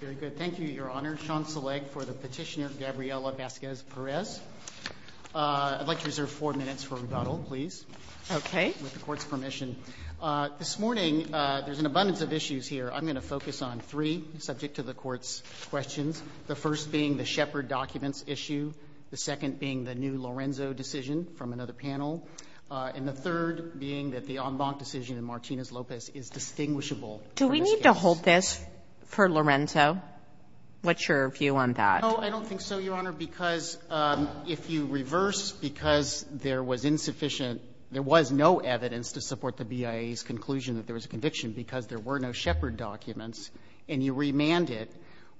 Very good. Thank you, Your Honor. Sean Seleg for the petitioner Gabriela Vasquez-Perez. I'd like to reserve four minutes for rebuttal, please. Okay. With the Court's permission. This morning, there's an abundance of issues here. I'm going to focus on three subject to the Court's questions, the first being the Shepard documents issue, the second being the new Lorenzo decision from another panel, and the third being that the en banc decision in Martinez-Lopez is distinguishable. Do we need to hold this for Lorenzo? What's your view on that? No, I don't think so, Your Honor, because if you reverse, because there was insufficient – there was no evidence to support the BIA's conclusion that there was a conviction because there were no Shepard documents, and you remand it,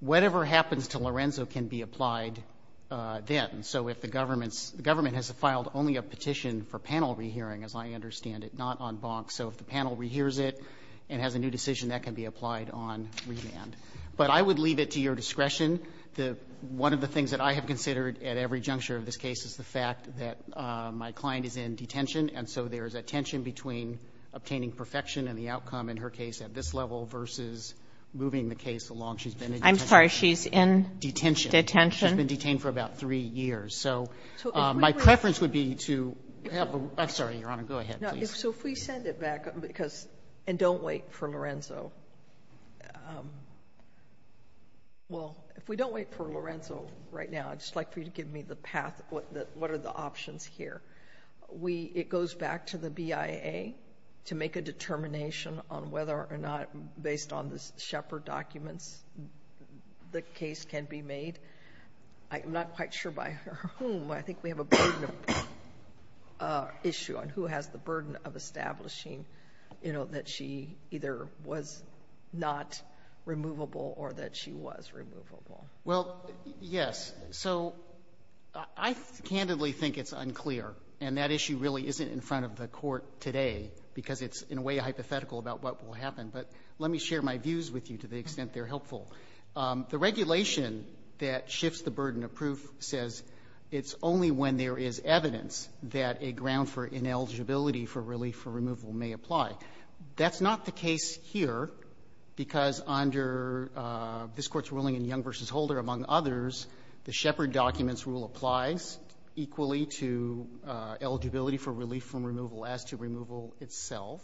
whatever happens to Lorenzo can be applied then. So if the government's – the government has filed only a petition for panel rehearing, as I understand it, not en banc. So if the panel rehears it and has a new decision, that can be applied on remand. But I would leave it to your discretion. One of the things that I have considered at every juncture of this case is the fact that my client is in detention, and so there is a tension between obtaining perfection and the outcome in her case at this level versus moving the case along. She's been in detention. I'm sorry. She's in detention. Detention. She's been detained for about three years. So my preference would be to have a – I'm sorry, Your Honor. Go ahead, please. So if we send it back because – and don't wait for Lorenzo. Well, if we don't wait for Lorenzo right now, I'd just like for you to give me the path – what are the options here. We – it goes back to the BIA to make a determination on whether or not, based on the Shepard documents, the case can be made. I'm not quite sure by whom. I think we have a burden of issue on who has the burden of establishing, you know, that she either was not removable or that she was removable. Well, yes. So I candidly think it's unclear, and that issue really isn't in front of the court today because it's, in a way, hypothetical about what will happen. But let me share my views with you to the extent they're helpful. The regulation that shifts the burden of proof says it's only when there is evidence that a ground for ineligibility for relief for removal may apply. That's not the case here because under this Court's ruling in Young v. Holder, among others, the Shepard documents rule applies equally to eligibility for relief from removal as to removal itself.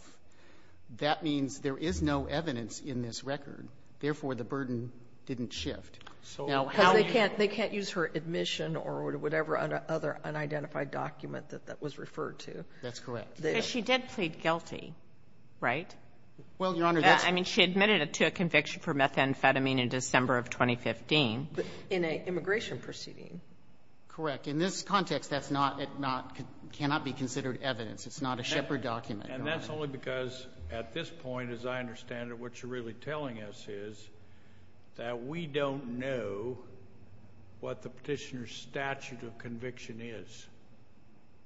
That means there is no evidence in this record. Therefore, the burden didn't shift. So how do you know? Because they can't use her admission or whatever other unidentified document that that was referred to. That's correct. But she did plead guilty, right? Well, Your Honor, that's — I mean, she admitted to a conviction for methamphetamine in December of 2015. In an immigration proceeding. Correct. In this context, that's not — it cannot be considered evidence. It's not a Shepard document. And that's only because, at this point, as I understand it, what you're really telling us is that we don't know what the Petitioner's statute of conviction is.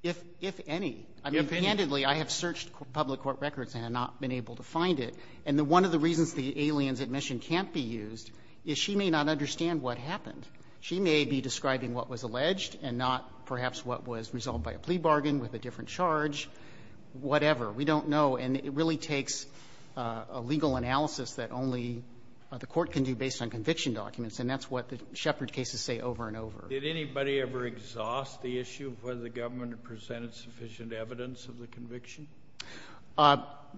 If any. If any. I mean, candidly, I have searched public court records and have not been able to find it. And one of the reasons the alien's admission can't be used is she may not understand what happened. She may be describing what was alleged and not perhaps what was resolved by a plea bargain with a different charge, whatever. We don't know. And it really takes a legal analysis that only the court can do based on conviction documents. And that's what the Shepard cases say over and over. Did anybody ever exhaust the issue of whether the government had presented sufficient evidence of the conviction?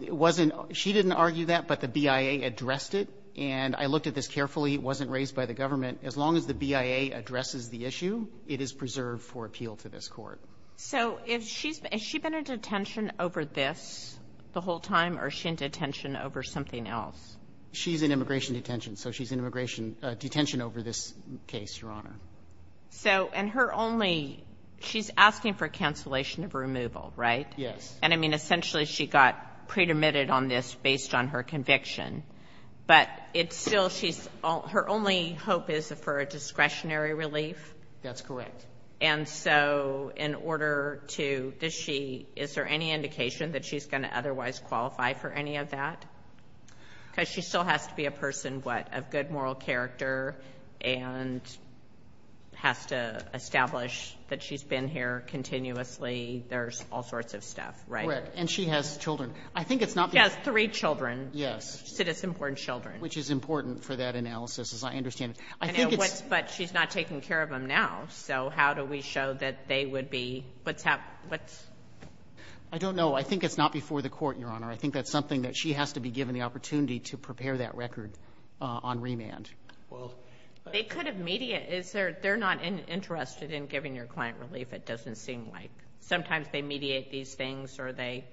It wasn't — she didn't argue that, but the BIA addressed it. And I looked at this carefully. It wasn't raised by the government. As long as the BIA addresses the issue, it is preserved for appeal to this Court. So has she been in detention over this the whole time, or is she in detention over something else? She's in immigration detention, so she's in immigration detention over this case, Your Honor. So — and her only — she's asking for cancellation of removal, right? Yes. And, I mean, essentially she got pre-admitted on this based on her conviction. But it's still — she's — her only hope is for a discretionary relief? That's correct. And so in order to — does she — is there any indication that she's going to otherwise qualify for any of that? Because she still has to be a person, what, of good moral character and has to establish that she's been here continuously. There's all sorts of stuff, right? Right. And she has children. I think it's not — She has three children. Yes. Which is important for that analysis, as I understand it. I think it's — But she's not taking care of them now. So how do we show that they would be — what's happened? What's — I don't know. I think it's not before the Court, Your Honor. I think that's something that she has to be given the opportunity to prepare that record on remand. Well — They could have mediate. Is there — they're not interested in giving your client relief, it doesn't seem like. Sometimes they mediate these things or they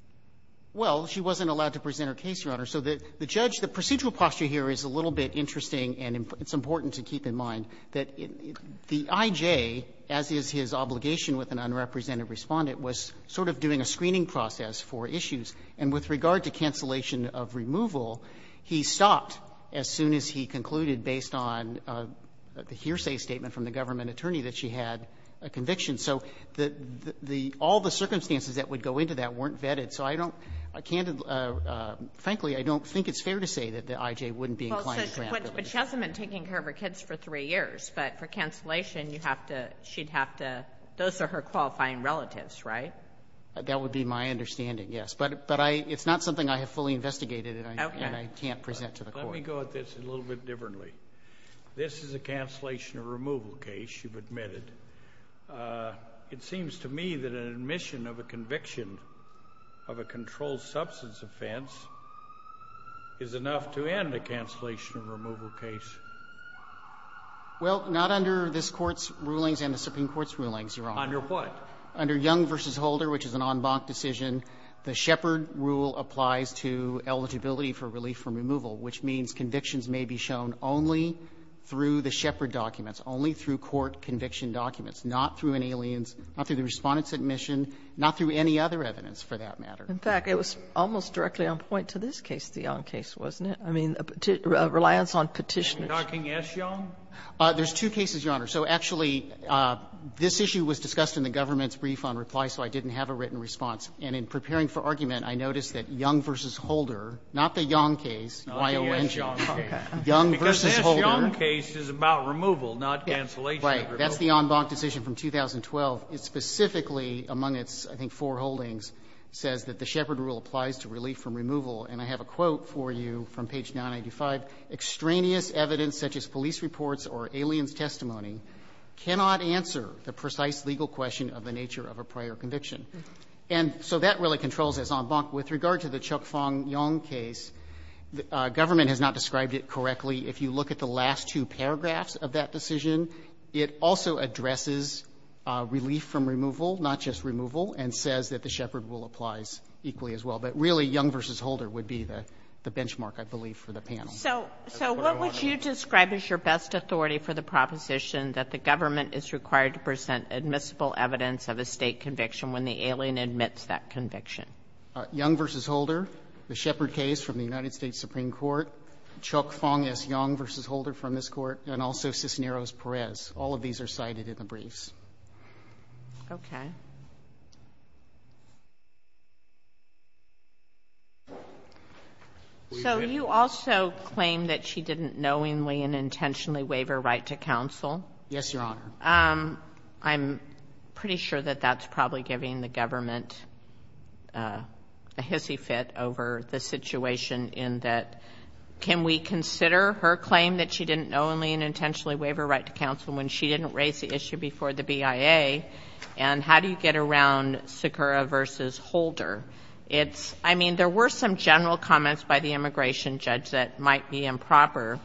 — Well, she wasn't allowed to present her case, Your Honor. So the judge — the procedural posture here is a little bit interesting and it's important to keep in mind that the I.J., as is his obligation with an unrepresented respondent, was sort of doing a screening process for issues. And with regard to cancellation of removal, he stopped as soon as he concluded based on the hearsay statement from the government attorney that she had a conviction. So the — all the circumstances that would go into that weren't vetted. So I don't — candidly — frankly, I don't think it's fair to say that the I.J. wouldn't be inclined to grant relief. But she hasn't been taking care of her kids for three years. But for cancellation, you have to — she'd have to — those are her qualifying relatives, right? That would be my understanding, yes. But I — it's not something I have fully investigated and I can't present to the court. Let me go at this a little bit differently. This is a cancellation of removal case, you've admitted. It seems to me that an admission of a conviction of a controlled substance offense is enough to end a cancellation of removal case. Well, not under this Court's rulings and the Supreme Court's rulings, Your Honor. Under what? Under Young v. Holder, which is an en banc decision, the Shepard rule applies to eligibility for relief from removal, which means convictions may be shown only through the Shepard documents, only through court conviction documents, not through an alien's — not through the respondent's admission, not through any other evidence for that matter. In fact, it was almost directly on point to this case, the Young case, wasn't it? I mean, a reliance on petitioners. Are you talking S. Young? There's two cases, Your Honor. So actually, this issue was discussed in the government's brief on reply, so I didn't have a written response. And in preparing for argument, I noticed that Young v. Holder, not the Young case, Y-O-N-G. Not the S. Young case. Young v. Holder. Because the S. Young case is about removal, not cancellation of removal. That's the en banc decision from 2012. It specifically, among its, I think, four holdings, says that the Shepard rule applies to relief from removal. And I have a quote for you from page 985. Extraneous evidence, such as police reports or alien's testimony, cannot answer the precise legal question of the nature of a prior conviction. And so that really controls en banc. With regard to the Chok Fong Young case, government has not described it correctly. If you look at the last two paragraphs of that decision, it also addresses relief from removal, not just removal, and says that the Shepard rule applies equally as well. But really, Young v. Holder would be the benchmark, I believe, for the panel. That's what I wanted to know. So what would you describe as your best authority for the proposition that the government is required to present admissible evidence of a State conviction when the alien admits that conviction? Young v. Holder, the Shepard case from the United States Supreme Court, Chok Fong S. Young v. Holder from this Court, and also Cisneros-Perez. All of these are cited in the briefs. Okay. So you also claim that she didn't knowingly and intentionally waive her right to counsel? Yes, Your Honor. I'm pretty sure that that's probably giving the government a hissy fit over the situation in that can we consider her claim that she didn't knowingly and intentionally waive her right to counsel when she didn't raise the issue before the BIA? And how do you get around Sikora v. Holder? It's, I mean, there were some general comments by the immigration judge that might be improper,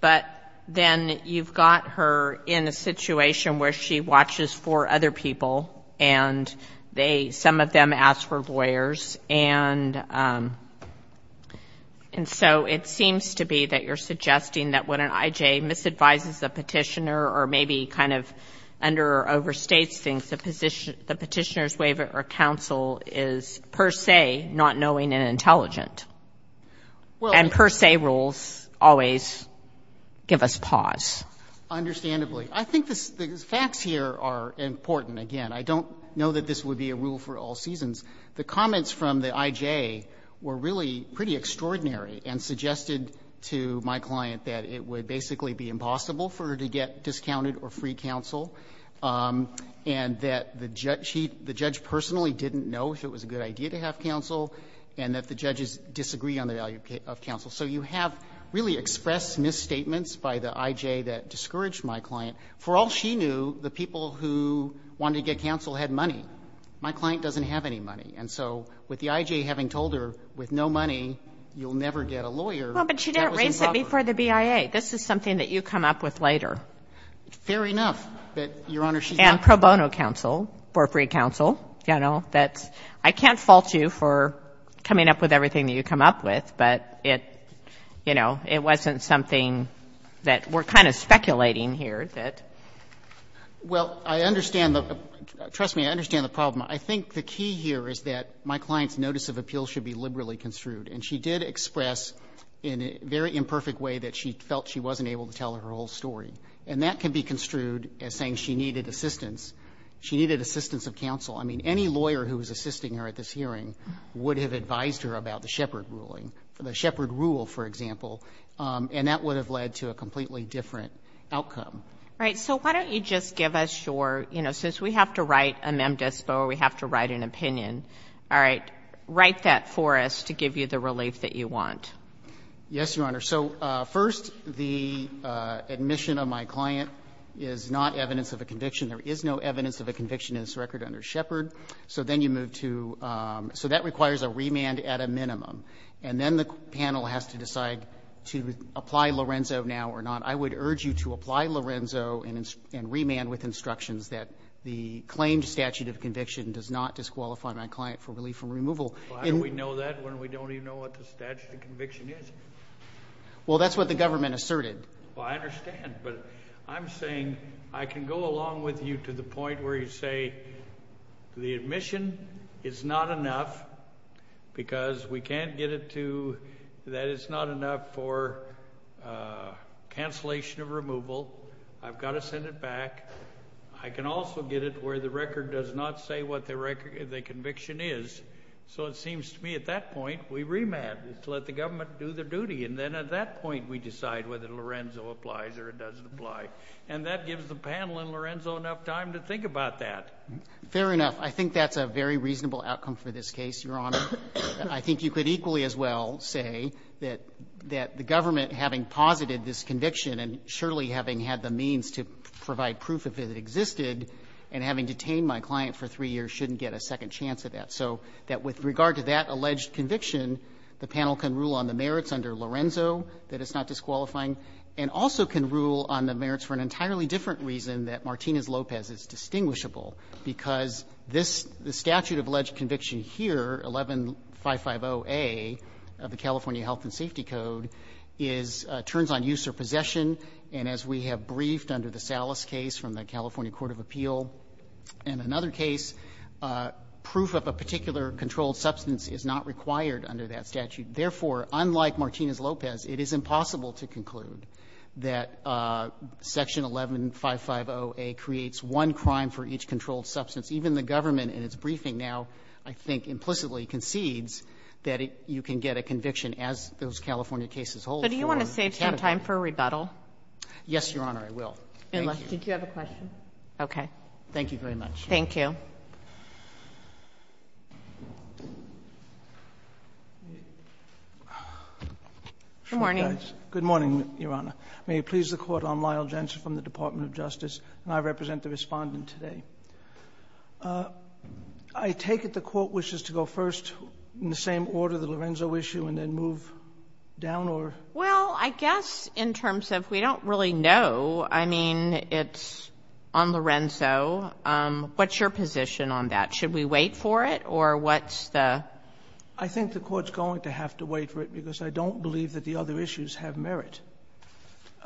but then you've got her in a situation where she watches for other people, and they, some of them ask for lawyers. And so it seems to be that you're suggesting that when an I.J. misadvises a Petitioner or maybe kind of under or overstates things, the Petitioner's waiver or counsel is per se not knowing and intelligent. And per se rules always give us pause. Understandably. I think the facts here are important. Again, I don't know that this would be a rule for all seasons. The comments from the I.J. were really pretty extraordinary and suggested to my client that it would basically be impossible for her to get discounted or free counsel and that the judge personally didn't know if it was a good idea to have counsel and that the judges disagree on the value of counsel. So you have really expressed misstatements by the I.J. that discouraged my client. For all she knew, the people who wanted to get counsel had money. My client doesn't have any money. And so with the I.J. having told her with no money you'll never get a lawyer, that was improper. Kagan, this is something that you come up with later. Fair enough that, Your Honor, she's not. And pro bono counsel, for free counsel. I can't fault you for coming up with everything that you come up with, but it, you know, it wasn't something that we're kind of speculating here that. Well, I understand. Trust me, I understand the problem. I think the key here is that my client's notice of appeal should be liberally construed. And she did express in a very imperfect way that she felt she wasn't able to tell her whole story. And that can be construed as saying she needed assistance. She needed assistance of counsel. I mean, any lawyer who was assisting her at this hearing would have advised her about the Shepard ruling, the Shepard rule, for example, and that would have led to a completely different outcome. Right. So why don't you just give us your, you know, since we have to write a mem dispo or we have to write an opinion. All right. Write that for us to give you the relief that you want. Yes, Your Honor. So first, the admission of my client is not evidence of a conviction. There is no evidence of a conviction in this record under Shepard. So then you move to, so that requires a remand at a minimum. And then the panel has to decide to apply Lorenzo now or not. I would urge you to apply Lorenzo and remand with instructions that the claimed statute of conviction does not disqualify my client for relief from removal. Why do we know that when we don't even know what the statute of conviction is? Well, that's what the government asserted. Well, I understand. But I'm saying I can go along with you to the point where you say the admission is not enough because we can't get it to that it's not enough for cancellation of removal. I've got to send it back. I can also get it where the record does not say what the conviction is. So it seems to me at that point we remand to let the government do their duty. And then at that point we decide whether Lorenzo applies or it doesn't apply. And that gives the panel and Lorenzo enough time to think about that. Fair enough. I think that's a very reasonable outcome for this case, Your Honor. I think you could equally as well say that the government, having posited this and having detained my client for three years, shouldn't get a second chance at that. So that with regard to that alleged conviction, the panel can rule on the merits under Lorenzo that it's not disqualifying and also can rule on the merits for an entirely different reason that Martinez-Lopez is distinguishable. Because this statute of alleged conviction here, 11-550A of the California Health and Safety Code, turns on use or possession. And as we have briefed under the Salas case from the California Court of Appeal and another case, proof of a particular controlled substance is not required under that statute. Therefore, unlike Martinez-Lopez, it is impossible to conclude that Section 11-550A creates one crime for each controlled substance. Even the government in its briefing now, I think, implicitly concedes that you can get a conviction as those California cases hold. Kagan. So do you want to save some time for rebuttal? Yes, Your Honor, I will. Thank you. Did you have a question? Okay. Thank you very much. Thank you. Good morning. Good morning, Your Honor. May it please the Court, I'm Lyle Jensen from the Department of Justice, and I represent the Respondent today. I take it the Court wishes to go first in the same order, the Lorenzo issue, and then move down or? Well, I guess in terms of we don't really know. I mean, it's on Lorenzo. What's your position on that? Should we wait for it, or what's the? I think the Court's going to have to wait for it because I don't believe that the other issues have merit.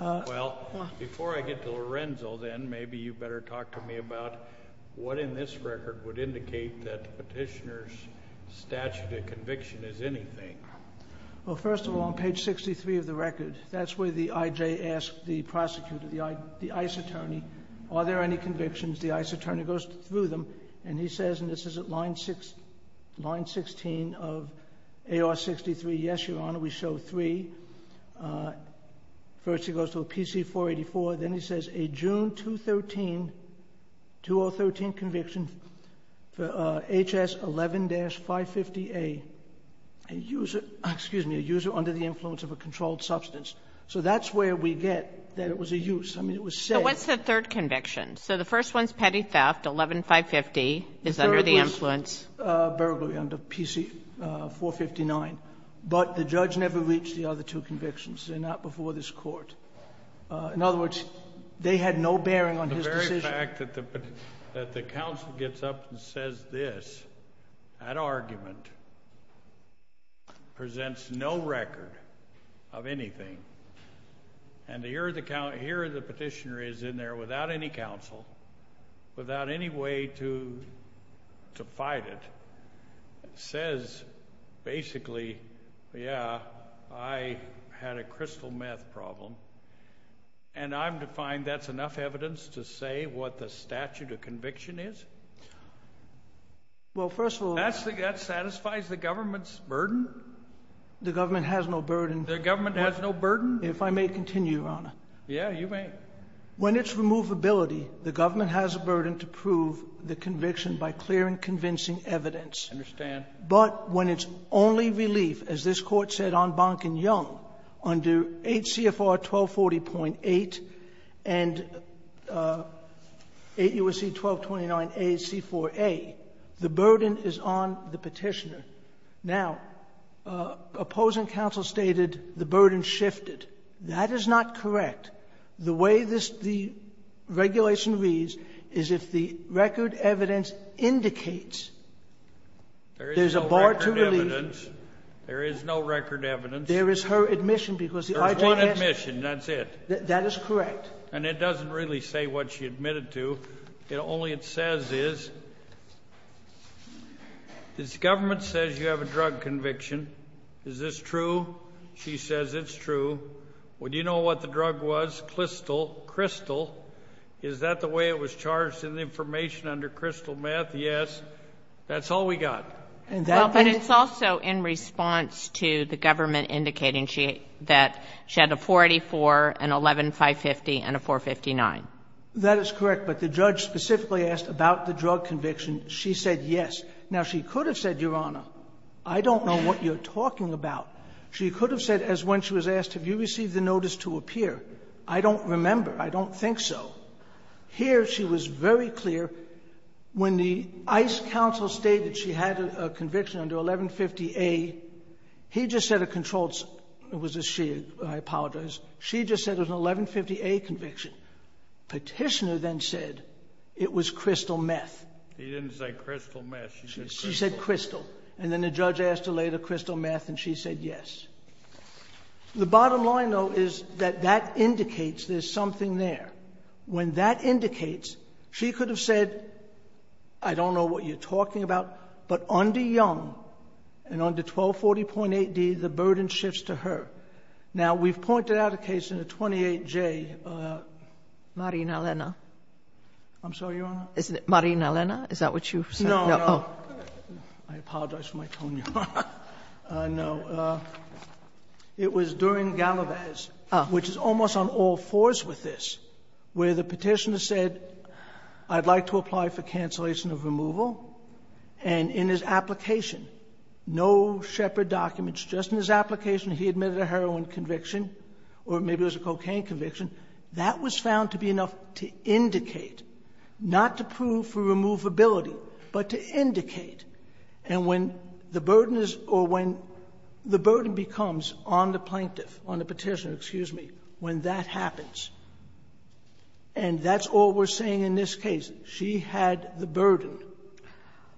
Well, before I get to Lorenzo, then, maybe you better talk to me about what in this record would indicate that Petitioner's statute of conviction is anything. Well, first of all, on page 63 of the record, that's where the IJ asked the prosecutor, the ICE attorney, are there any convictions? The ICE attorney goes through them, and he says, and this is at line 16 of AR-63, yes, Your Honor, we show three. First, he goes to a PC-484. Then he says a June 2013, 2013 conviction for HS11-550A, a user, excuse me, a user under the influence of a controlled substance. So that's where we get that it was a use. I mean, it was said. But what's the third conviction? So the first one's petty theft, 11-550 is under the influence. The third was burglary under PC-459. But the judge never reached the other two convictions. They're not before this Court. In other words, they had no bearing on his decision. The very fact that the counsel gets up and says this, that argument presents no record of anything. And here the petitioner is in there without any counsel, without any way to fight it, says basically, yeah, I had a crystal meth problem, and I'm to find that's enough evidence to say what the statute of conviction is? Well, first of all... That satisfies the government's burden? The government has no burden. The government has no burden? If I may continue, Your Honor. Yeah, you may. When it's removability, the government has a burden to prove the conviction by clear and convincing evidence. I understand. But when it's only relief, as this Court said on Bonken-Young, under 8 CFR 1240.8 and 8 U.S.C. 1229a C4a, the burden is on the petitioner. Now, opposing counsel stated the burden shifted. That is not correct. The way the regulation reads is if the record evidence indicates there's a bar to relief... There is no record evidence. There is no record evidence. There is her admission because the IJS... There's one admission. That's it. That is correct. And it doesn't really say what she admitted to. Only it says is, this government says you have a drug conviction. Is this true? She says it's true. Well, do you know what the drug was? Crystal. Is that the way it was charged in the information under crystal meth? Yes. That's all we got. But it's also in response to the government indicating that she had a 484, an 11-550, and a 459. That is correct. But the judge specifically asked about the drug conviction. She said yes. Now, she could have said, Your Honor, I don't know what you're talking about. She could have said, as when she was asked, Have you received the notice to appear? I don't remember. I don't think so. Here she was very clear. When the ICE counsel stated she had a conviction under 1150A, he just said a controlled It was a she. I apologize. She just said it was an 1150A conviction. Petitioner then said it was crystal meth. He didn't say crystal meth. She said crystal. And then the judge asked her later, crystal meth, and she said yes. The bottom line, though, is that that indicates there's something there. When that indicates, she could have said, I don't know what you're talking about, but under Young and under 1240.8d, the burden shifts to her. Now, we've pointed out a case in the 28J. Marina Lena. I'm sorry, Your Honor? Isn't it Marina Lena? Is that what you said? No, no. I apologize for my tone, Your Honor. No. It was during Galavaz, which is almost on all fours with this, where the petitioner said, I'd like to apply for cancellation of removal. And in his application, no Shepard documents. Just in his application, he admitted a heroin conviction or maybe it was a cocaine conviction. That was found to be enough to indicate, not to prove for removability, but to indicate and when the burden is or when the burden becomes on the plaintiff, on the petitioner, excuse me, when that happens. And that's all we're saying in this case. She had the burden.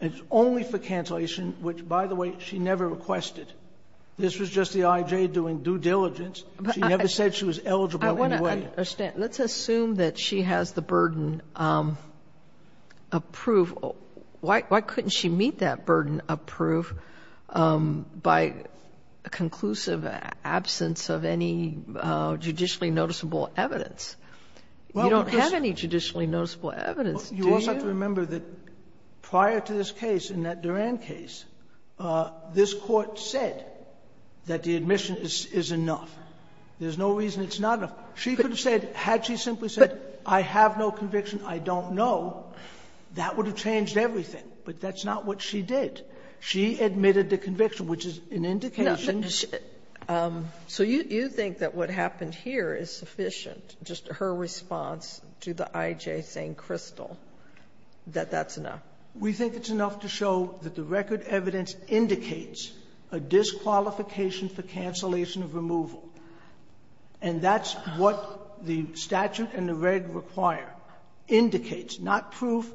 It's only for cancellation, which, by the way, she never requested. This was just the IJ doing due diligence. She never said she was eligible in any way. I want to understand. Let's assume that she has the burden approval. Why couldn't she meet that burden approval by conclusive absence of any judicially noticeable evidence? You don't have any judicially noticeable evidence, do you? You also have to remember that prior to this case, in that Duran case, this Court said that the admission is enough. There's no reason it's not enough. She could have said, had she simply said, I have no conviction, I don't know, that would have changed everything. But that's not what she did. She admitted the conviction, which is an indication. Sotomayor, so you think that what happened here is sufficient, just her response to the IJ saying crystal, that that's enough? We think it's enough to show that the record evidence indicates a disqualification for cancellation of removal. And that's what the statute and the red require. Indicates, not proof,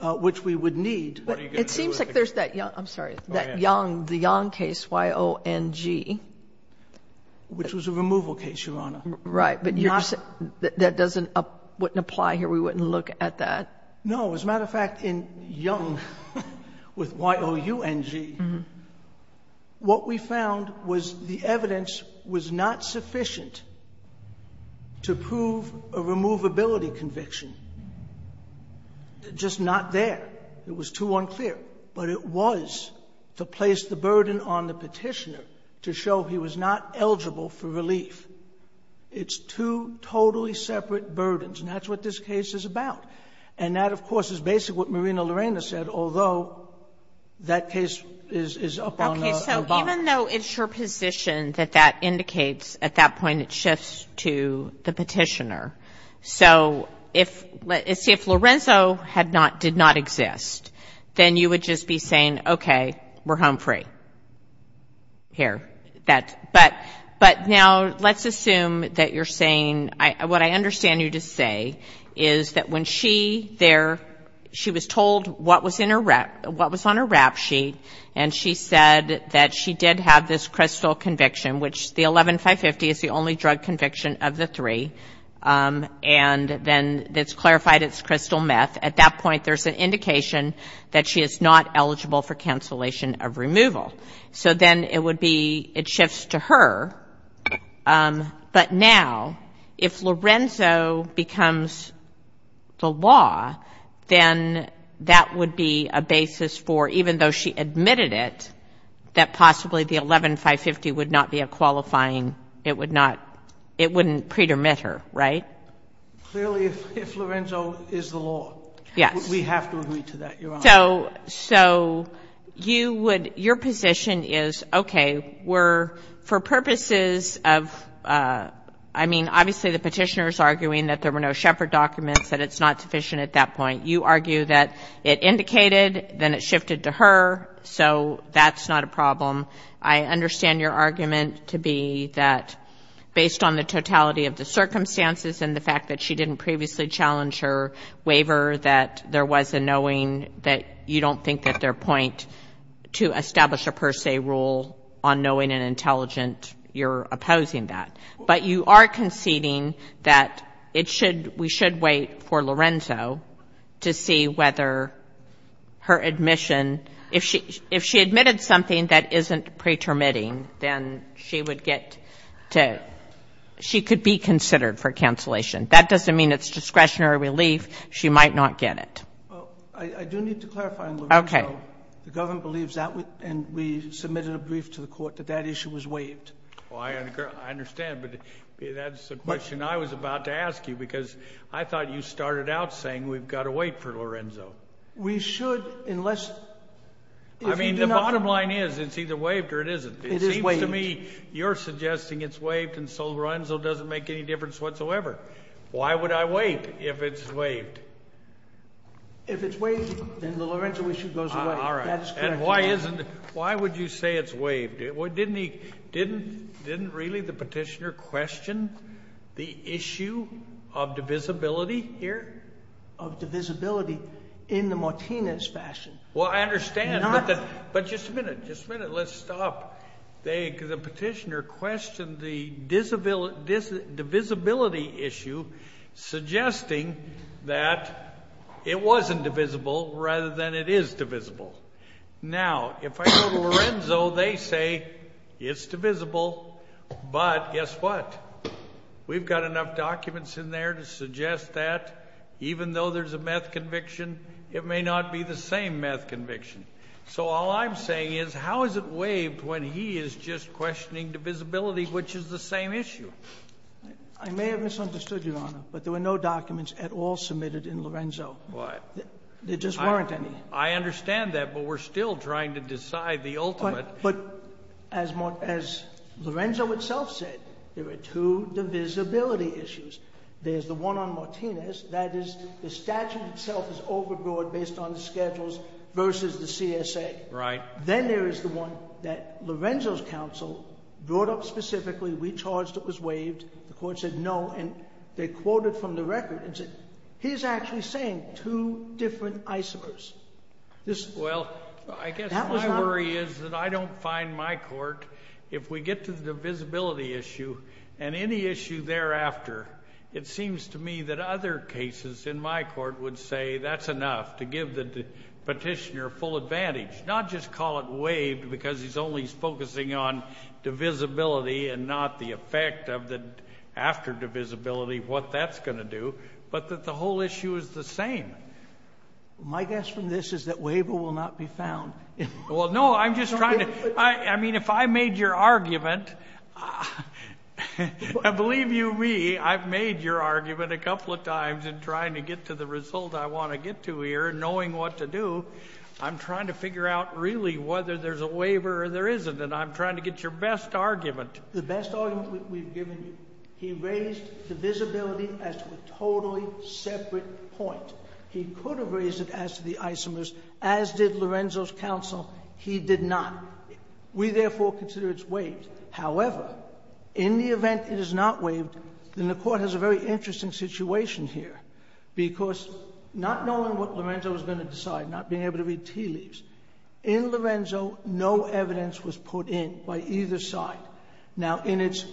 which we would need. It seems like there's that, I'm sorry, that Young, the Young case, Y-O-N-G. Which was a removal case, Your Honor. Right, but that doesn't apply here. We wouldn't look at that. No. As a matter of fact, in Young, with Y-O-U-N-G, what we found was the evidence was not sufficient to prove a removability conviction. Just not there. It was too unclear. But it was to place the burden on the Petitioner to show he was not eligible for relief. It's two totally separate burdens. And that's what this case is about. And that, of course, is basically what Marina Lorena said, although that case is up on the box. Okay. So even though it's your position that that indicates, at that point it shifts to the Petitioner. So if, let's see, if Lorenzo had not, did not exist, then you would just be saying, okay, we're home free. Here. But now let's assume that you're saying, what I understand you to say is that when she there, she was told what was in her, what was on her rap sheet, and she said that she did have this crystal conviction, which the 11-550 is the only drug conviction of the three, and then it's clarified it's crystal meth. At that point, there's an indication that she is not eligible for cancellation of removal. So then it would be, it shifts to her. But now, if Lorenzo becomes the law, then that would be a basis for, even though she admitted it, that possibly the 11-550 would not be a qualifying, it would not, it wouldn't pre-dermit her. Right? Clearly, if Lorenzo is the law, we have to agree to that, Your Honor. So you would, your position is, okay, we're, for purposes of, I mean, obviously the petitioner is arguing that there were no Shepard documents, that it's not sufficient at that point. You argue that it indicated, then it shifted to her, so that's not a problem. I understand your argument to be that based on the totality of the circumstances and the fact that she didn't previously challenge her waiver, that there was a point to establish a per se rule on knowing and intelligent, you're opposing that. But you are conceding that it should, we should wait for Lorenzo to see whether her admission, if she admitted something that isn't pre-dermitting, then she would get to, she could be considered for cancellation. That doesn't mean it's discretionary relief. She might not get it. Well, I do need to clarify on Lorenzo. Okay. The government believes that, and we submitted a brief to the court, that that issue was waived. Well, I understand, but that's the question I was about to ask you, because I thought you started out saying we've got to wait for Lorenzo. We should, unless... I mean, the bottom line is, it's either waived or it isn't. It is waived. It seems to me you're suggesting it's waived and so Lorenzo doesn't make any difference whatsoever. Why would I wait if it's waived? If it's waived, then the Lorenzo issue goes away. All right. That is correct. And why would you say it's waived? Didn't really the Petitioner question the issue of divisibility here? Of divisibility in the Martinez fashion. Well, I understand, but just a minute, just a minute. Let's stop. The Petitioner questioned the divisibility issue, suggesting that it wasn't divisible rather than it is divisible. Now, if I go to Lorenzo, they say it's divisible, but guess what? We've got enough documents in there to suggest that, even though there's a meth conviction, it may not be the same meth conviction. So all I'm saying is how is it waived when he is just questioning divisibility, which is the same issue? I may have misunderstood, Your Honor, but there were no documents at all submitted in Lorenzo. What? There just weren't any. I understand that, but we're still trying to decide the ultimate. But as Lorenzo itself said, there are two divisibility issues. There's the one on Martinez. That is, the statute itself is overbroad based on the schedules versus the CSA. Right. Then there is the one that Lorenzo's counsel brought up specifically. We charged it was waived. The court said no, and they quoted from the record and said, he's actually saying two different isomers. Well, I guess my worry is that I don't find my court, if we get to the divisibility issue and any issue thereafter, it seems to me that other cases in my court would say that's enough to give the petitioner full advantage, not just call it waived because he's only focusing on divisibility and not the effect of the after divisibility, what that's going to do, but that the whole issue is the same. My guess from this is that waiver will not be found. Well, no, I'm just trying to, I mean, if I made your argument, I believe you, me, I've made your argument a couple of times in trying to get to the result I want to get to here, knowing what to do. I'm trying to figure out really whether there's a waiver or there isn't, and I'm trying to get your best argument. The best argument we've given you, he raised the visibility as a totally separate point. He could have raised it as to the isomers, as did Lorenzo's counsel. He did not. We therefore consider it's waived. However, in the event it is not waived, then the court has a very interesting situation here because not knowing what Lorenzo was going to decide, not being able to read tea leaves. In Lorenzo, no evidence was put in by either side. Now in its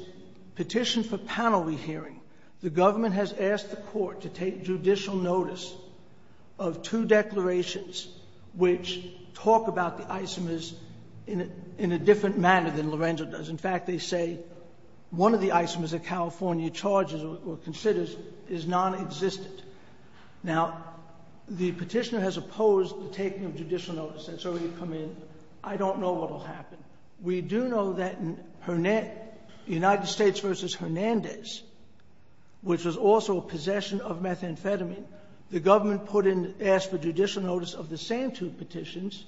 petition for panel re-hearing, the government has asked the court to take judicial notice of two petitions in a different manner than Lorenzo does. In fact, they say one of the isomers that California charges or considers is non-existent. Now the petitioner has opposed the taking of judicial notice. That's already come in. I don't know what will happen. We do know that in United States v. Hernandez, which was also a possession of methamphetamine, the government put in, asked for judicial notice of the same two petitions,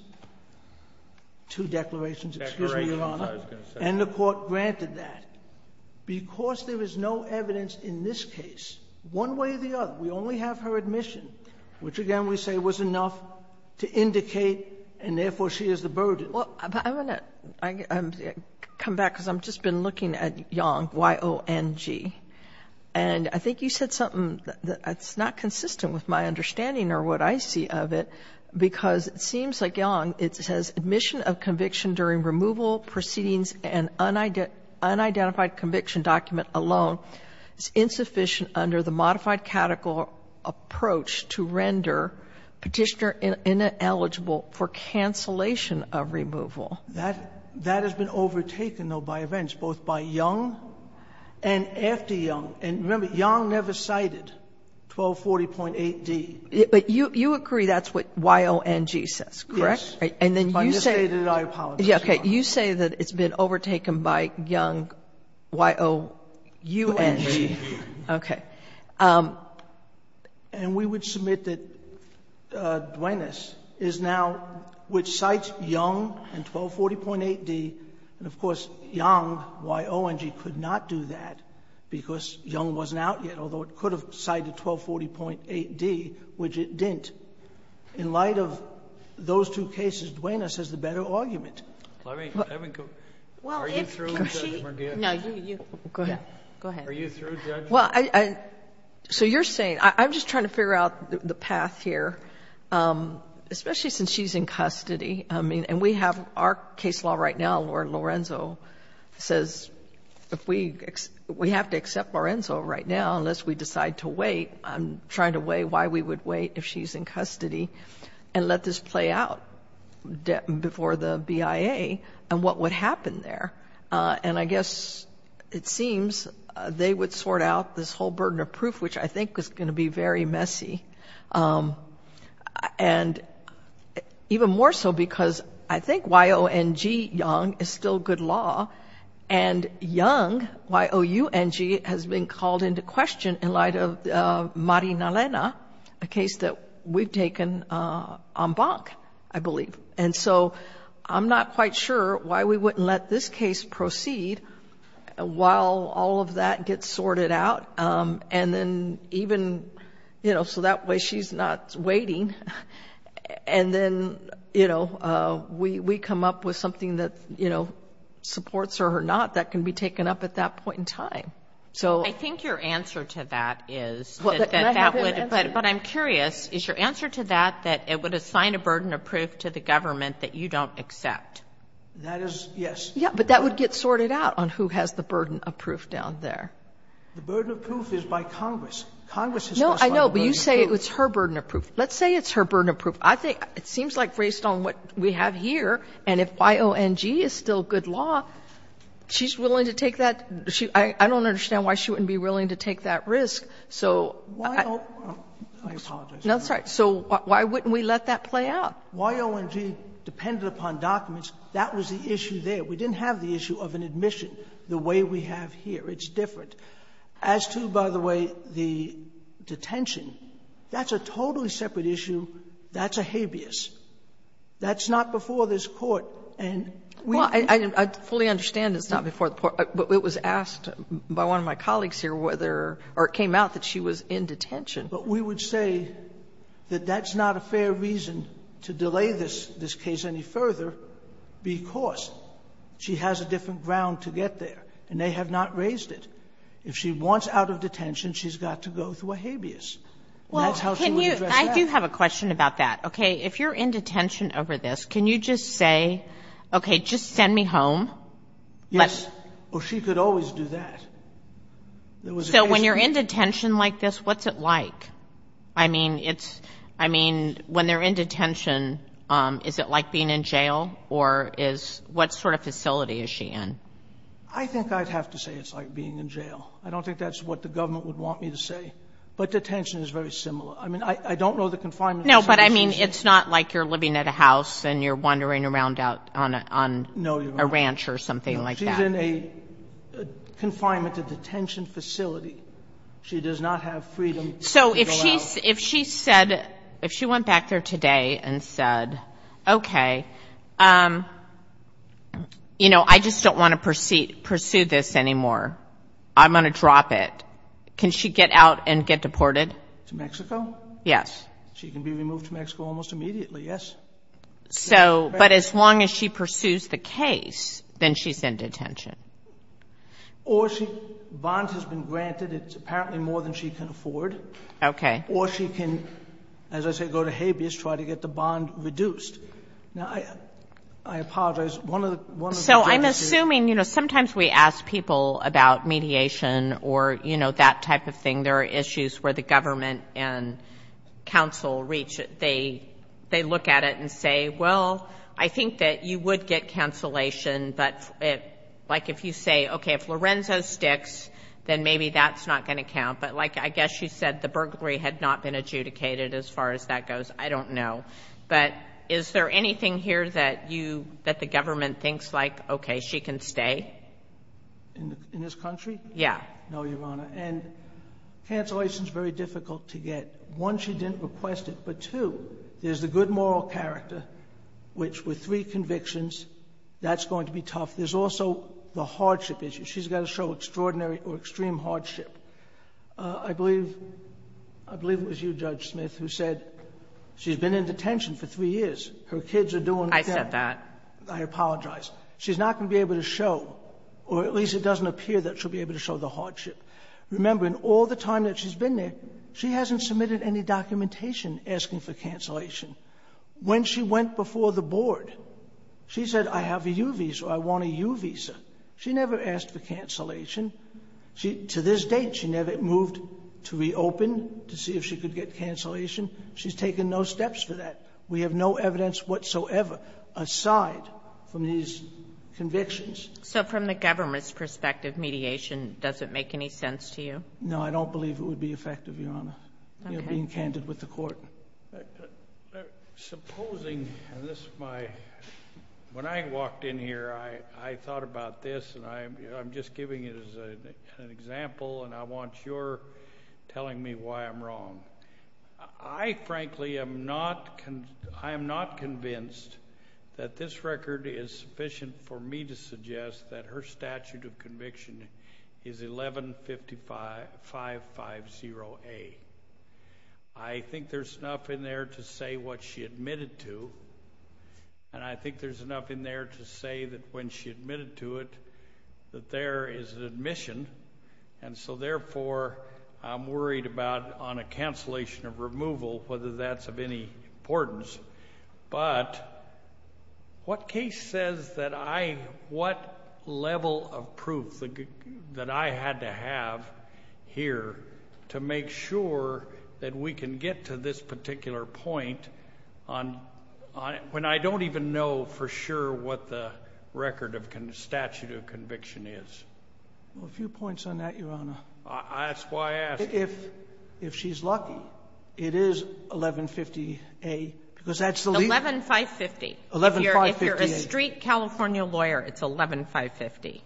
two declarations. Excuse me, Your Honor. And the court granted that. Because there is no evidence in this case, one way or the other, we only have her admission, which again we say was enough to indicate, and therefore she is the burden. Sotomayor, I'm going to come back because I've just been looking at Yong, Y-O-N-G. I'm not sure what I'm seeing or what I see of it, because it seems like Yong, it says admission of conviction during removal, proceedings, and unidentified conviction document alone is insufficient under the modified catechol approach to render petitioner ineligible for cancellation of removal. That has been overtaken, though, by events, both by Yong and after Yong. And remember, Yong never cited 1240.8d. But you agree that's what Y-O-N-G says, correct? Yes. And then you say that it's been overtaken by Yong, Y-O-U-N-G. Okay. And we would submit that Duenas is now, which cites Yong and 1240.8d. And of course, Yong, Y-O-N-G, could not do that because Yong wasn't out yet, although it could have cited 1240.8d, which it didn't. In light of those two cases, Duenas has the better argument. Well, if she goes, go ahead, go ahead. Are you through, Judge? Well, so you're saying, I'm just trying to figure out the path here, especially since she's in custody. I mean, and we have our case law right now, where Lorenzo says, we have to accept Lorenzo right now unless we decide to wait. I'm trying to weigh why we would wait if she's in custody and let this play out before the BIA and what would happen there. And I guess it seems they would sort out this whole burden of proof, which I think is going to be very messy. And even more so because I think Y-O-N-G, Yong, is still good law, and Yong, Y-O-U-N-G, has been called into question in light of Mari Nalena, a case that we've taken en banc, I believe. And so I'm not quite sure why we wouldn't let this case proceed while all of that gets sorted out. And then even, you know, so that way she's not waiting. And then, you know, we come up with something that, you know, supports her or not that can be taken up at that point in time. I think your answer to that is, but I'm curious, is your answer to that that it would assign a burden of proof to the government that you don't accept? That is, yes. Yeah, but that would get sorted out on who has the burden of proof down there. The burden of proof is by Congress. Congress has specified the burden of proof. No, I know, but you say it's her burden of proof. Let's say it's her burden of proof. I think it seems like based on what we have here, and if Y-O-N-G is still good law, she's willing to take that. I don't understand why she wouldn't be willing to take that risk. So I apologize. No, that's all right. So why wouldn't we let that play out? Y-O-N-G depended upon documents. That was the issue there. We didn't have the issue of an admission the way we have here. It's different. As to, by the way, the detention, that's a totally separate issue. That's a habeas. That's not before this Court. And we can't. Well, I fully understand it's not before the Court. But it was asked by one of my colleagues here whether or it came out that she was in detention. But we would say that that's not a fair reason to delay this case any further because she has a different ground to get there, and they have not raised it. If she wants out of detention, she's got to go through a habeas. And that's how she would address that. Well, can you – I do have a question about that. Okay. If you're in detention over this, can you just say, okay, just send me home? Yes. Or she could always do that. So when you're in detention like this, what's it like? I mean, it's – I mean, when they're in detention, is it like being in jail, or is – what sort of facility is she in? I think I'd have to say it's like being in jail. I don't think that's what the government would want me to say. But detention is very similar. I mean, I don't know the confinement facility. No, but I mean, it's not like you're living at a house and you're wandering around out on a ranch or something like that. No, you're right. She's in a confinement detention facility. She does not have freedom to go out. So if she said – if she went back there today and said, okay, you know, I just don't want to pursue this anymore. I'm going to drop it, can she get out and get deported? To Mexico? Yes. She can be removed to Mexico almost immediately, yes. So – but as long as she pursues the case, then she's in detention. Or she – bond has been granted. It's apparently more than she can afford. Okay. Or she can, as I say, go to habeas, try to get the bond reduced. Now, I apologize. So I'm assuming, you know, sometimes we ask people about mediation or, you know, that type of thing. There are issues where the government and counsel reach – they look at it and say, well, I think that you would get cancellation, but like if you say, okay, if Lorenzo sticks, then maybe that's not going to count. But like I guess you said, the burglary had not been adjudicated as far as that goes. I don't know. But is there anything here that you – that the government thinks like, okay, she can stay? In this country? Yeah. No, Your Honor. And cancellation is very difficult to get. One, she didn't request it. But two, there's the good moral character, which with three convictions, that's going to be tough. There's also the hardship issue. She's got to show extraordinary or extreme hardship. I believe – I believe it was you, Judge Smith, who said she's been in detention for three years. Her kids are doing – I said that. I apologize. She's not going to be able to show, or at least it doesn't appear that she'll be able to show the hardship. Remember, in all the time that she's been there, she hasn't submitted any documentation asking for cancellation. When she went before the board, she said, I have a U visa or I want a U visa. She never asked for cancellation. To this date, she never moved to reopen to see if she could get cancellation. She's taken no steps for that. We have no evidence whatsoever aside from these convictions. So from the government's perspective, mediation doesn't make any sense to you? No, I don't believe it would be effective, Your Honor. You're being candid with the court. Supposing – and this is my – when I walked in here, I thought about this, and I'm just giving it as an example, and I want your telling me why I'm wrong. I frankly am not – I am not convinced that this record is sufficient for me to suggest that her statute of conviction is 115550A. I think there's enough in there to say what she admitted to, and I think there's enough in there to say that when she admitted to it, that there is an admission. And so therefore, I'm worried about on a cancellation of removal, whether that's of any importance. But what case says that I – what level of proof that I had to have here to make sure that we can get to this particular point on – when I don't even know for sure what the record of statute of conviction is? A few points on that, Your Honor. That's why I asked. If she's lucky, it is 1150A, because that's the legal – 11550. 11558. If you're a street California lawyer, it's 11550,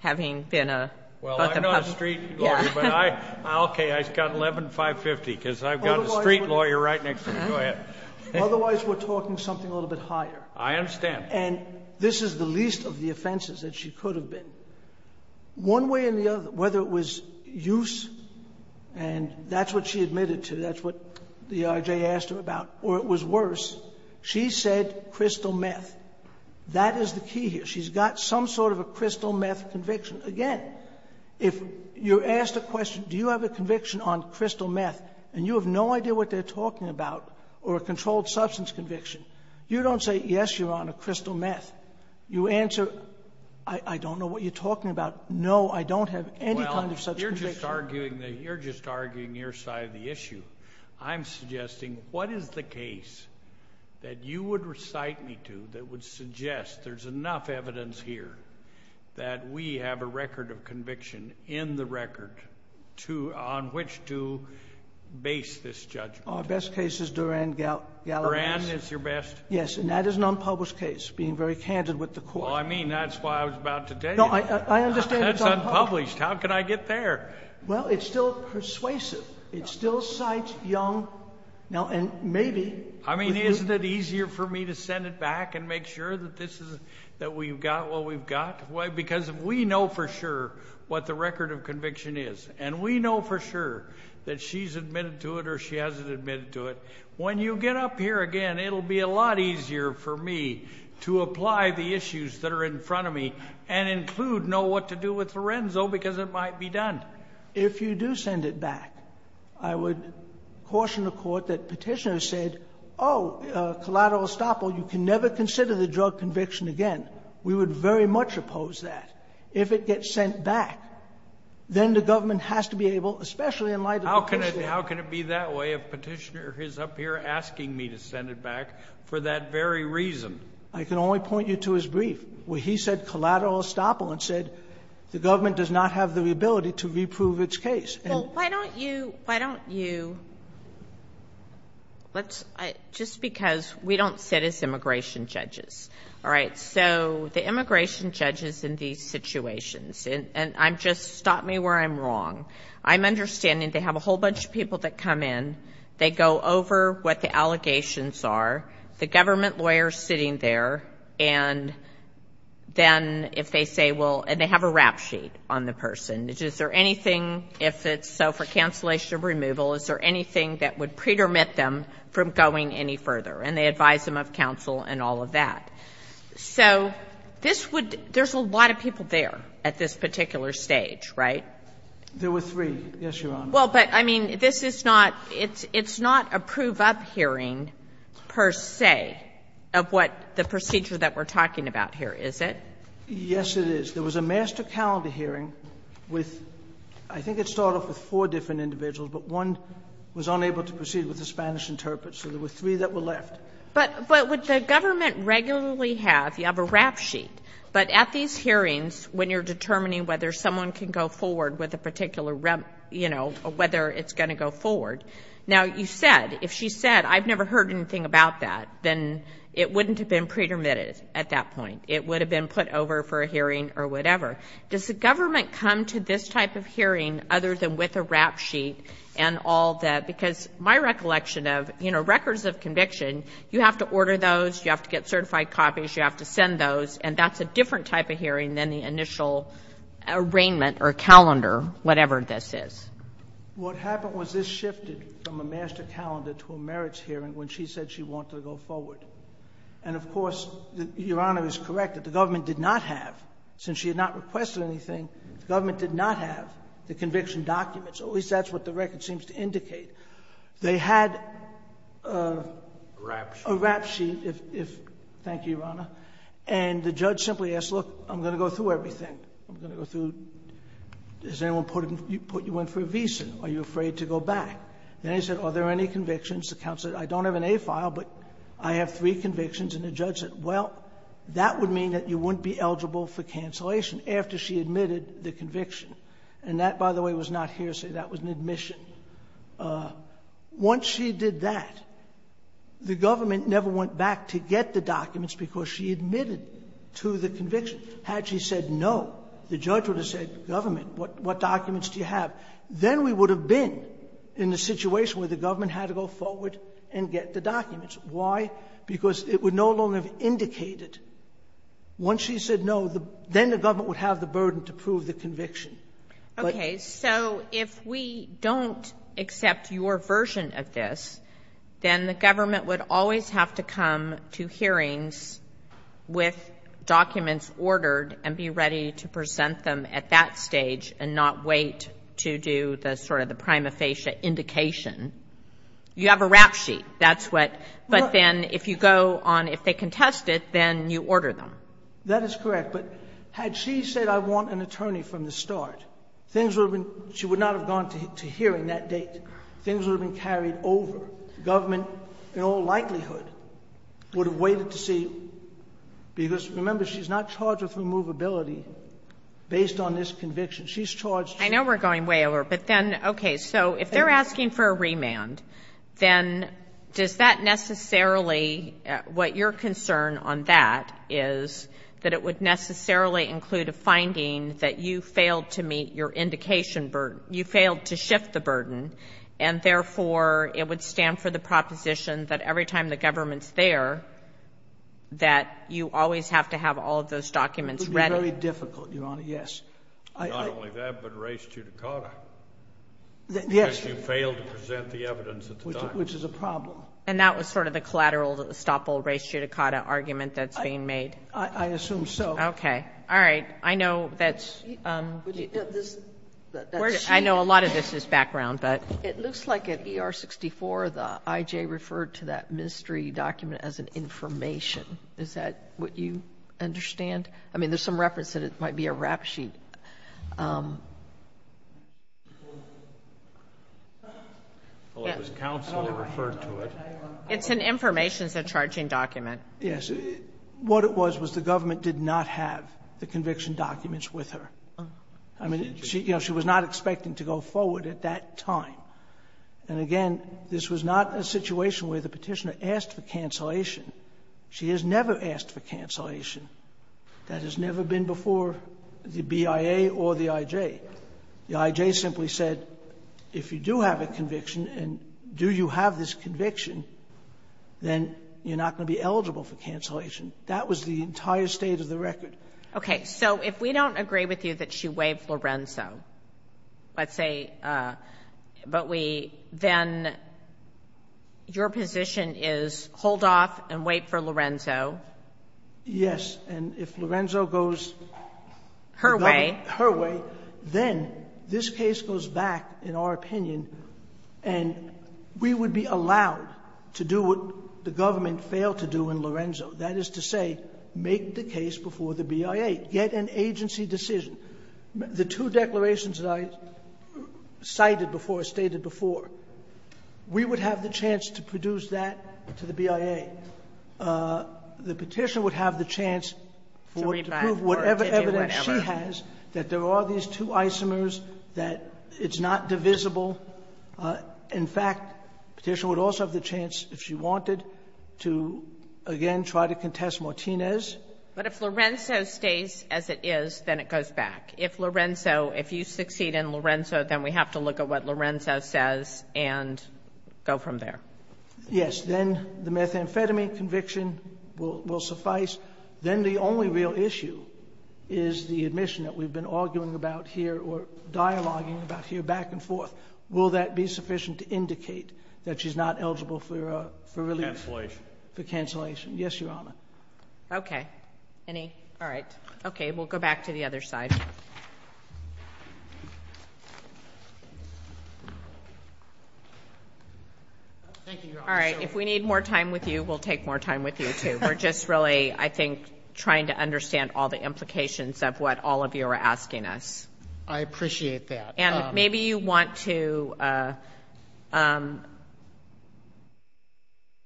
having been a – Well, I'm not a street lawyer, but I – okay, I got 11550, because I've got a street lawyer right next to me. Go ahead. Otherwise, we're talking something a little bit higher. I understand. And this is the least of the offenses that she could have been. One way or the other, whether it was use, and that's what she admitted to, that's what the IJ asked her about, or it was worse, she said crystal meth. That is the key here. She's got some sort of a crystal meth conviction. Again, if you're asked a question, do you have a conviction on crystal meth, and you have no idea what they're talking about, or a controlled substance conviction, you don't say, yes, Your Honor, crystal meth. You answer, I don't know what you're talking about. No, I don't have any kind of such conviction. Well, you're just arguing your side of the issue. I'm suggesting, what is the case that you would recite me to that would suggest there's enough evidence here that we have a record of conviction in the record on which to base this judgment? Our best case is Duran-Galavis. Duran is your best? Yes. And that is an unpublished case, being very candid with the court. Well, I mean, that's why I was about to tell you. No, I understand it's unpublished. That's unpublished. How could I get there? Well, it's still persuasive. It still cites young. Now, and maybe. I mean, isn't it easier for me to send it back and make sure that we've got what we've got? Because if we know for sure what the record of conviction is, and we know for sure that she's admitted to it or she hasn't admitted to it, when you get up here again, it'll be a lot easier for me to apply the issues that are in front of me and include know what to do with Lorenzo because it might be done. If you do send it back, I would caution the court that Petitioner said, oh, collateral estoppel, you can never consider the drug conviction again. We would very much oppose that. If it gets sent back, then the government has to be able, especially in light of Petitioner. How can it be that way if Petitioner is up here asking me to send it back for that very reason? I can only point you to his brief where he said collateral estoppel and said the government does not have the ability to reprove its case. Well, why don't you, why don't you, let's, just because we don't sit as immigration judges. All right, so the immigration judges in these situations, and I'm just, stop me where I'm wrong. I'm understanding they have a whole bunch of people that come in. They go over what the allegations are. The government lawyer is sitting there, and then if they say, well, and they have a rap sheet on the person. Is there anything, if it's so for cancellation or removal, is there anything that would pretermit them from going any further? And they advise them of counsel and all of that. So this would, there's a lot of people there at this particular stage, right? There were three, yes, Your Honor. Well, but, I mean, this is not, it's not a prove-up hearing, per se, of what the procedure that we're talking about here, is it? Yes, it is. There was a master calendar hearing with, I think it started with four different individuals, but one was unable to proceed with the Spanish interpreter. So there were three that were left. But would the government regularly have, you have a rap sheet, but at these hearings, when you're determining whether someone can go forward with a particular, you know, whether it's going to go forward. Now, you said, if she said, I've never heard anything about that, then it wouldn't have been pretermitted at that point. It would have been put over for a hearing or whatever. Does the government come to this type of hearing other than with a rap sheet and all that? Because my recollection of, you know, records of conviction, you have to order those, you have to get certified copies, you have to send those, and that's a kind of initial arraignment or calendar, whatever this is. What happened was this shifted from a master calendar to a merits hearing when she said she wanted to go forward. And, of course, Your Honor is correct that the government did not have, since she had not requested anything, the government did not have the conviction documents, at least that's what the record seems to indicate. They had a rap sheet. A rap sheet. Thank you, Your Honor. And the judge simply asked, look, I'm going to go through everything. I'm going to go through, has anyone put you in for a visa? Are you afraid to go back? Then he said, are there any convictions? The counsel said, I don't have an A file, but I have three convictions. And the judge said, well, that would mean that you wouldn't be eligible for cancellation after she admitted the conviction. And that, by the way, was not hearsay. That was an admission. Once she did that, the government never went back to get the documents because she admitted to the conviction. Had she said no, the judge would have said, government, what documents do you have? Then we would have been in a situation where the government had to go forward and get the documents. Why? Because it would no longer have indicated. Once she said no, then the government would have the burden to prove the conviction. But the judge said no. Okay. So if we don't accept your version of this, then the government would always have to come to hearings with documents ordered and be ready to present them at that stage and not wait to do the sort of the prima facie indication. You have a rap sheet. That's what. But then if you go on, if they contest it, then you order them. That is correct. But had she said I want an attorney from the start, things would have been — she would not have gone to hearing that date. Things would have been carried over. The government, in all likelihood, would have waited to see because, remember, she's not charged with removability based on this conviction. She's charged — I know we're going way over. But then, okay, so if they're asking for a remand, then does that necessarily — what your concern on that is that it would necessarily include a finding that you failed to meet your indication burden, you failed to shift the burden, and therefore it would stand for the proposition that every time the government's there, that you always have to have all of those documents ready? It would be very difficult, Your Honor, yes. Not only that, but res judicata. Yes. Because you failed to present the evidence at the time. Which is a problem. And that was sort of the collateral estoppel res judicata argument that's being made? I assume so. Okay. All right. I know that's — I know a lot of this is background, but — It looks like at ER-64, the I.J. referred to that mystery document as an information. Is that what you understand? I mean, there's some reference that it might be a rap sheet. Well, it was counsel that referred to it. It's an information. It's a charging document. Yes. What it was was the government did not have the conviction documents with her. I mean, you know, she was not expecting to go forward at that time. And, again, this was not a situation where the Petitioner asked for cancellation. She has never asked for cancellation. That has never been before the BIA or the I.J. The I.J. simply said, if you do have a conviction, and do you have this conviction, then you're not going to be eligible for cancellation. That was the entire state of the record. Okay. Okay. So, if we don't agree with you that she waived Lorenzo, let's say, but we — then your position is hold off and wait for Lorenzo? Yes. And if Lorenzo goes — Her way. Her way, then this case goes back in our opinion, and we would be allowed to do what the government failed to do in Lorenzo. That is to say, make the case before the BIA. Get an agency decision. The two declarations that I cited before or stated before, we would have the chance to produce that to the BIA. The Petitioner would have the chance for it to prove whatever evidence she has, that there are these two isomers, that it's not divisible. In fact, Petitioner would also have the chance if she wanted to, again, try to contest Martinez. But if Lorenzo stays as it is, then it goes back. If Lorenzo — if you succeed in Lorenzo, then we have to look at what Lorenzo says and go from there. Yes. Then the methamphetamine conviction will suffice. Then the only real issue is the admission that we've been arguing about here or dialoguing about here back and forth. Will that be sufficient to indicate that she's not eligible for release? Cancellation. For cancellation. Yes, Your Honor. Okay. Any? All right. Okay. We'll go back to the other side. Thank you, Your Honor. All right. If we need more time with you, we'll take more time with you, too. We're just really, I think, trying to understand all the implications of what all of you are asking us. I appreciate that. And maybe you want to —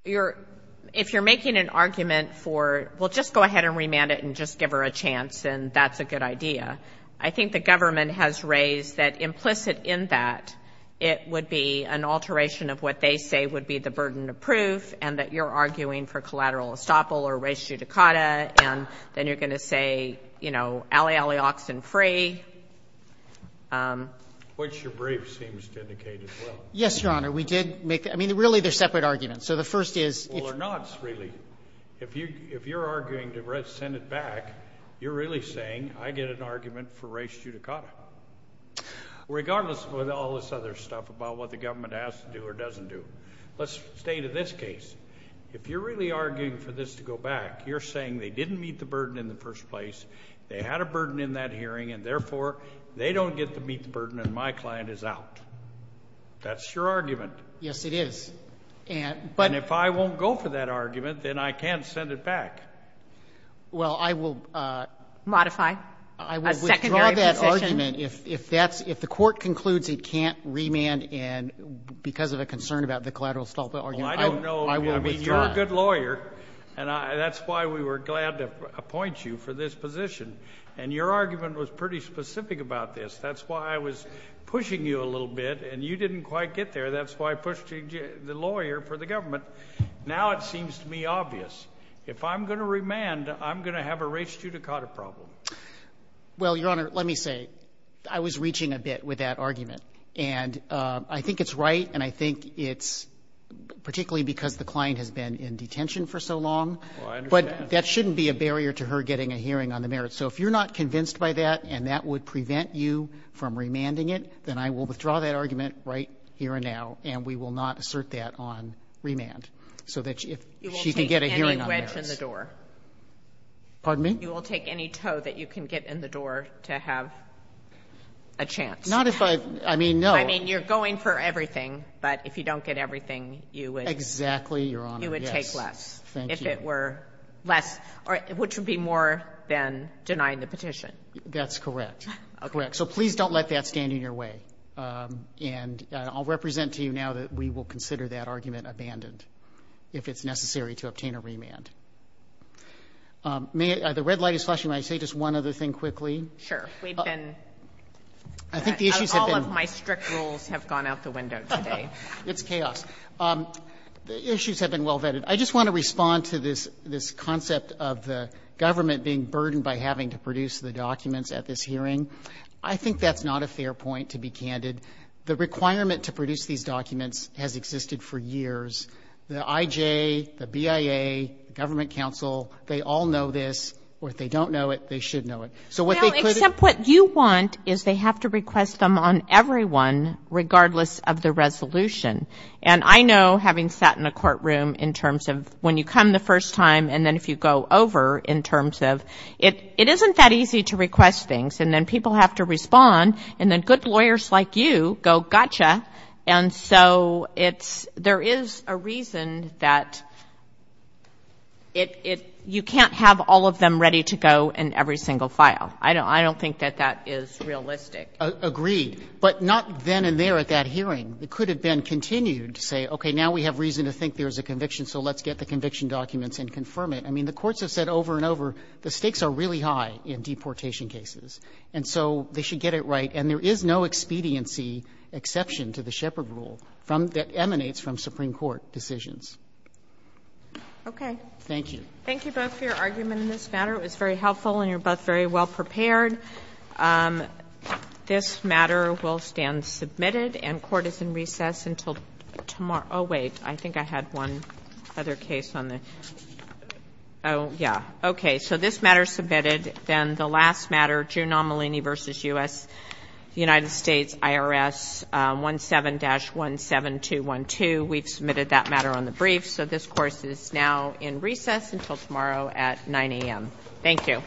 if you're making an argument for, well, just go ahead and remand it and just give her a chance and that's a good idea. I think the government has raised that implicit in that it would be an alteration of what they say would be the burden of proof and that you're arguing for collateral estoppel or res judicata and then you're going to say, you know, alley, alley, ox and fray. Which your brief seems to indicate as well. Yes, Your Honor. We did make — I mean, really, they're separate arguments. So the first is — Well, they're not, really. If you're arguing to send it back, you're really saying I get an argument for res judicata. Regardless of all this other stuff about what the government has to do or doesn't do. Let's stay to this case. If you're really arguing for this to go back, you're saying they didn't meet the burden in the first place, they had a burden in that hearing and, therefore, they don't get to meet the burden and my client is out. That's your argument. Yes, it is. And — And if I won't go for that argument, then I can't send it back. Well, I will — Modify a secondary position. I will withdraw that argument if that's — if the Court concludes it can't remand because of a concern about the collateral assault argument. Well, I don't know. I mean, you're a good lawyer, and that's why we were glad to appoint you for this position. And your argument was pretty specific about this. That's why I was pushing you a little bit, and you didn't quite get there. That's why I pushed the lawyer for the government. Now it seems to me obvious. If I'm going to remand, I'm going to have a res judicata problem. And I think it's right, and I think it's — particularly because the client has been in detention for so long. Well, I understand. But that shouldn't be a barrier to her getting a hearing on the merits. So if you're not convinced by that and that would prevent you from remanding it, then I will withdraw that argument right here and now, and we will not assert that on remand. So that if she can get a hearing on the merits — You will take any wedge in the door. Pardon me? You will take any toe that you can get in the door to have a chance. Not if I — I mean, no. I mean, you're going for everything, but if you don't get everything, you would — Exactly, Your Honor. You would take less. Yes. Thank you. If it were less, which would be more than denying the petition. That's correct. Correct. So please don't let that stand in your way. And I'll represent to you now that we will consider that argument abandoned if it's necessary to obtain a remand. The red light is flashing. May I say just one other thing quickly? Sure. We've been — I think the issues have been — All of my strict rules have gone out the window today. It's chaos. The issues have been well vetted. I just want to respond to this concept of the government being burdened by having to produce the documents at this hearing. I think that's not a fair point, to be candid. The requirement to produce these documents has existed for years. The IJ, the BIA, the Government Council, they all know this, or if they don't know it, they should know it. Well, except what you want is they have to request them on everyone, regardless of the resolution. And I know, having sat in a courtroom in terms of when you come the first time and then if you go over in terms of — it isn't that easy to request things, and then people have to respond, and then good lawyers like you go, gotcha. And so it's — there is a reason that it — you can't have all of them ready to go in every single file. I don't think that that is realistic. Agreed. But not then and there at that hearing. It could have been continued to say, okay, now we have reason to think there is a conviction, so let's get the conviction documents and confirm it. I mean, the courts have said over and over, the stakes are really high in deportation cases, and so they should get it right. And there is no expediency exception to the Shepard rule from — that emanates from Supreme Court decisions. Okay. Thank you. Thank you both for your argument in this matter. It was very helpful, and you're both very well prepared. This matter will stand submitted, and court is in recess until tomorrow. Oh, wait. I think I had one other case on the — oh, yeah. Okay. So this matter is submitted. Then the last matter, June Amelini v. U.S. — United States IRS 17-17212. We've submitted that matter on the brief. So this course is now in recess until tomorrow at 9 a.m. Thank you.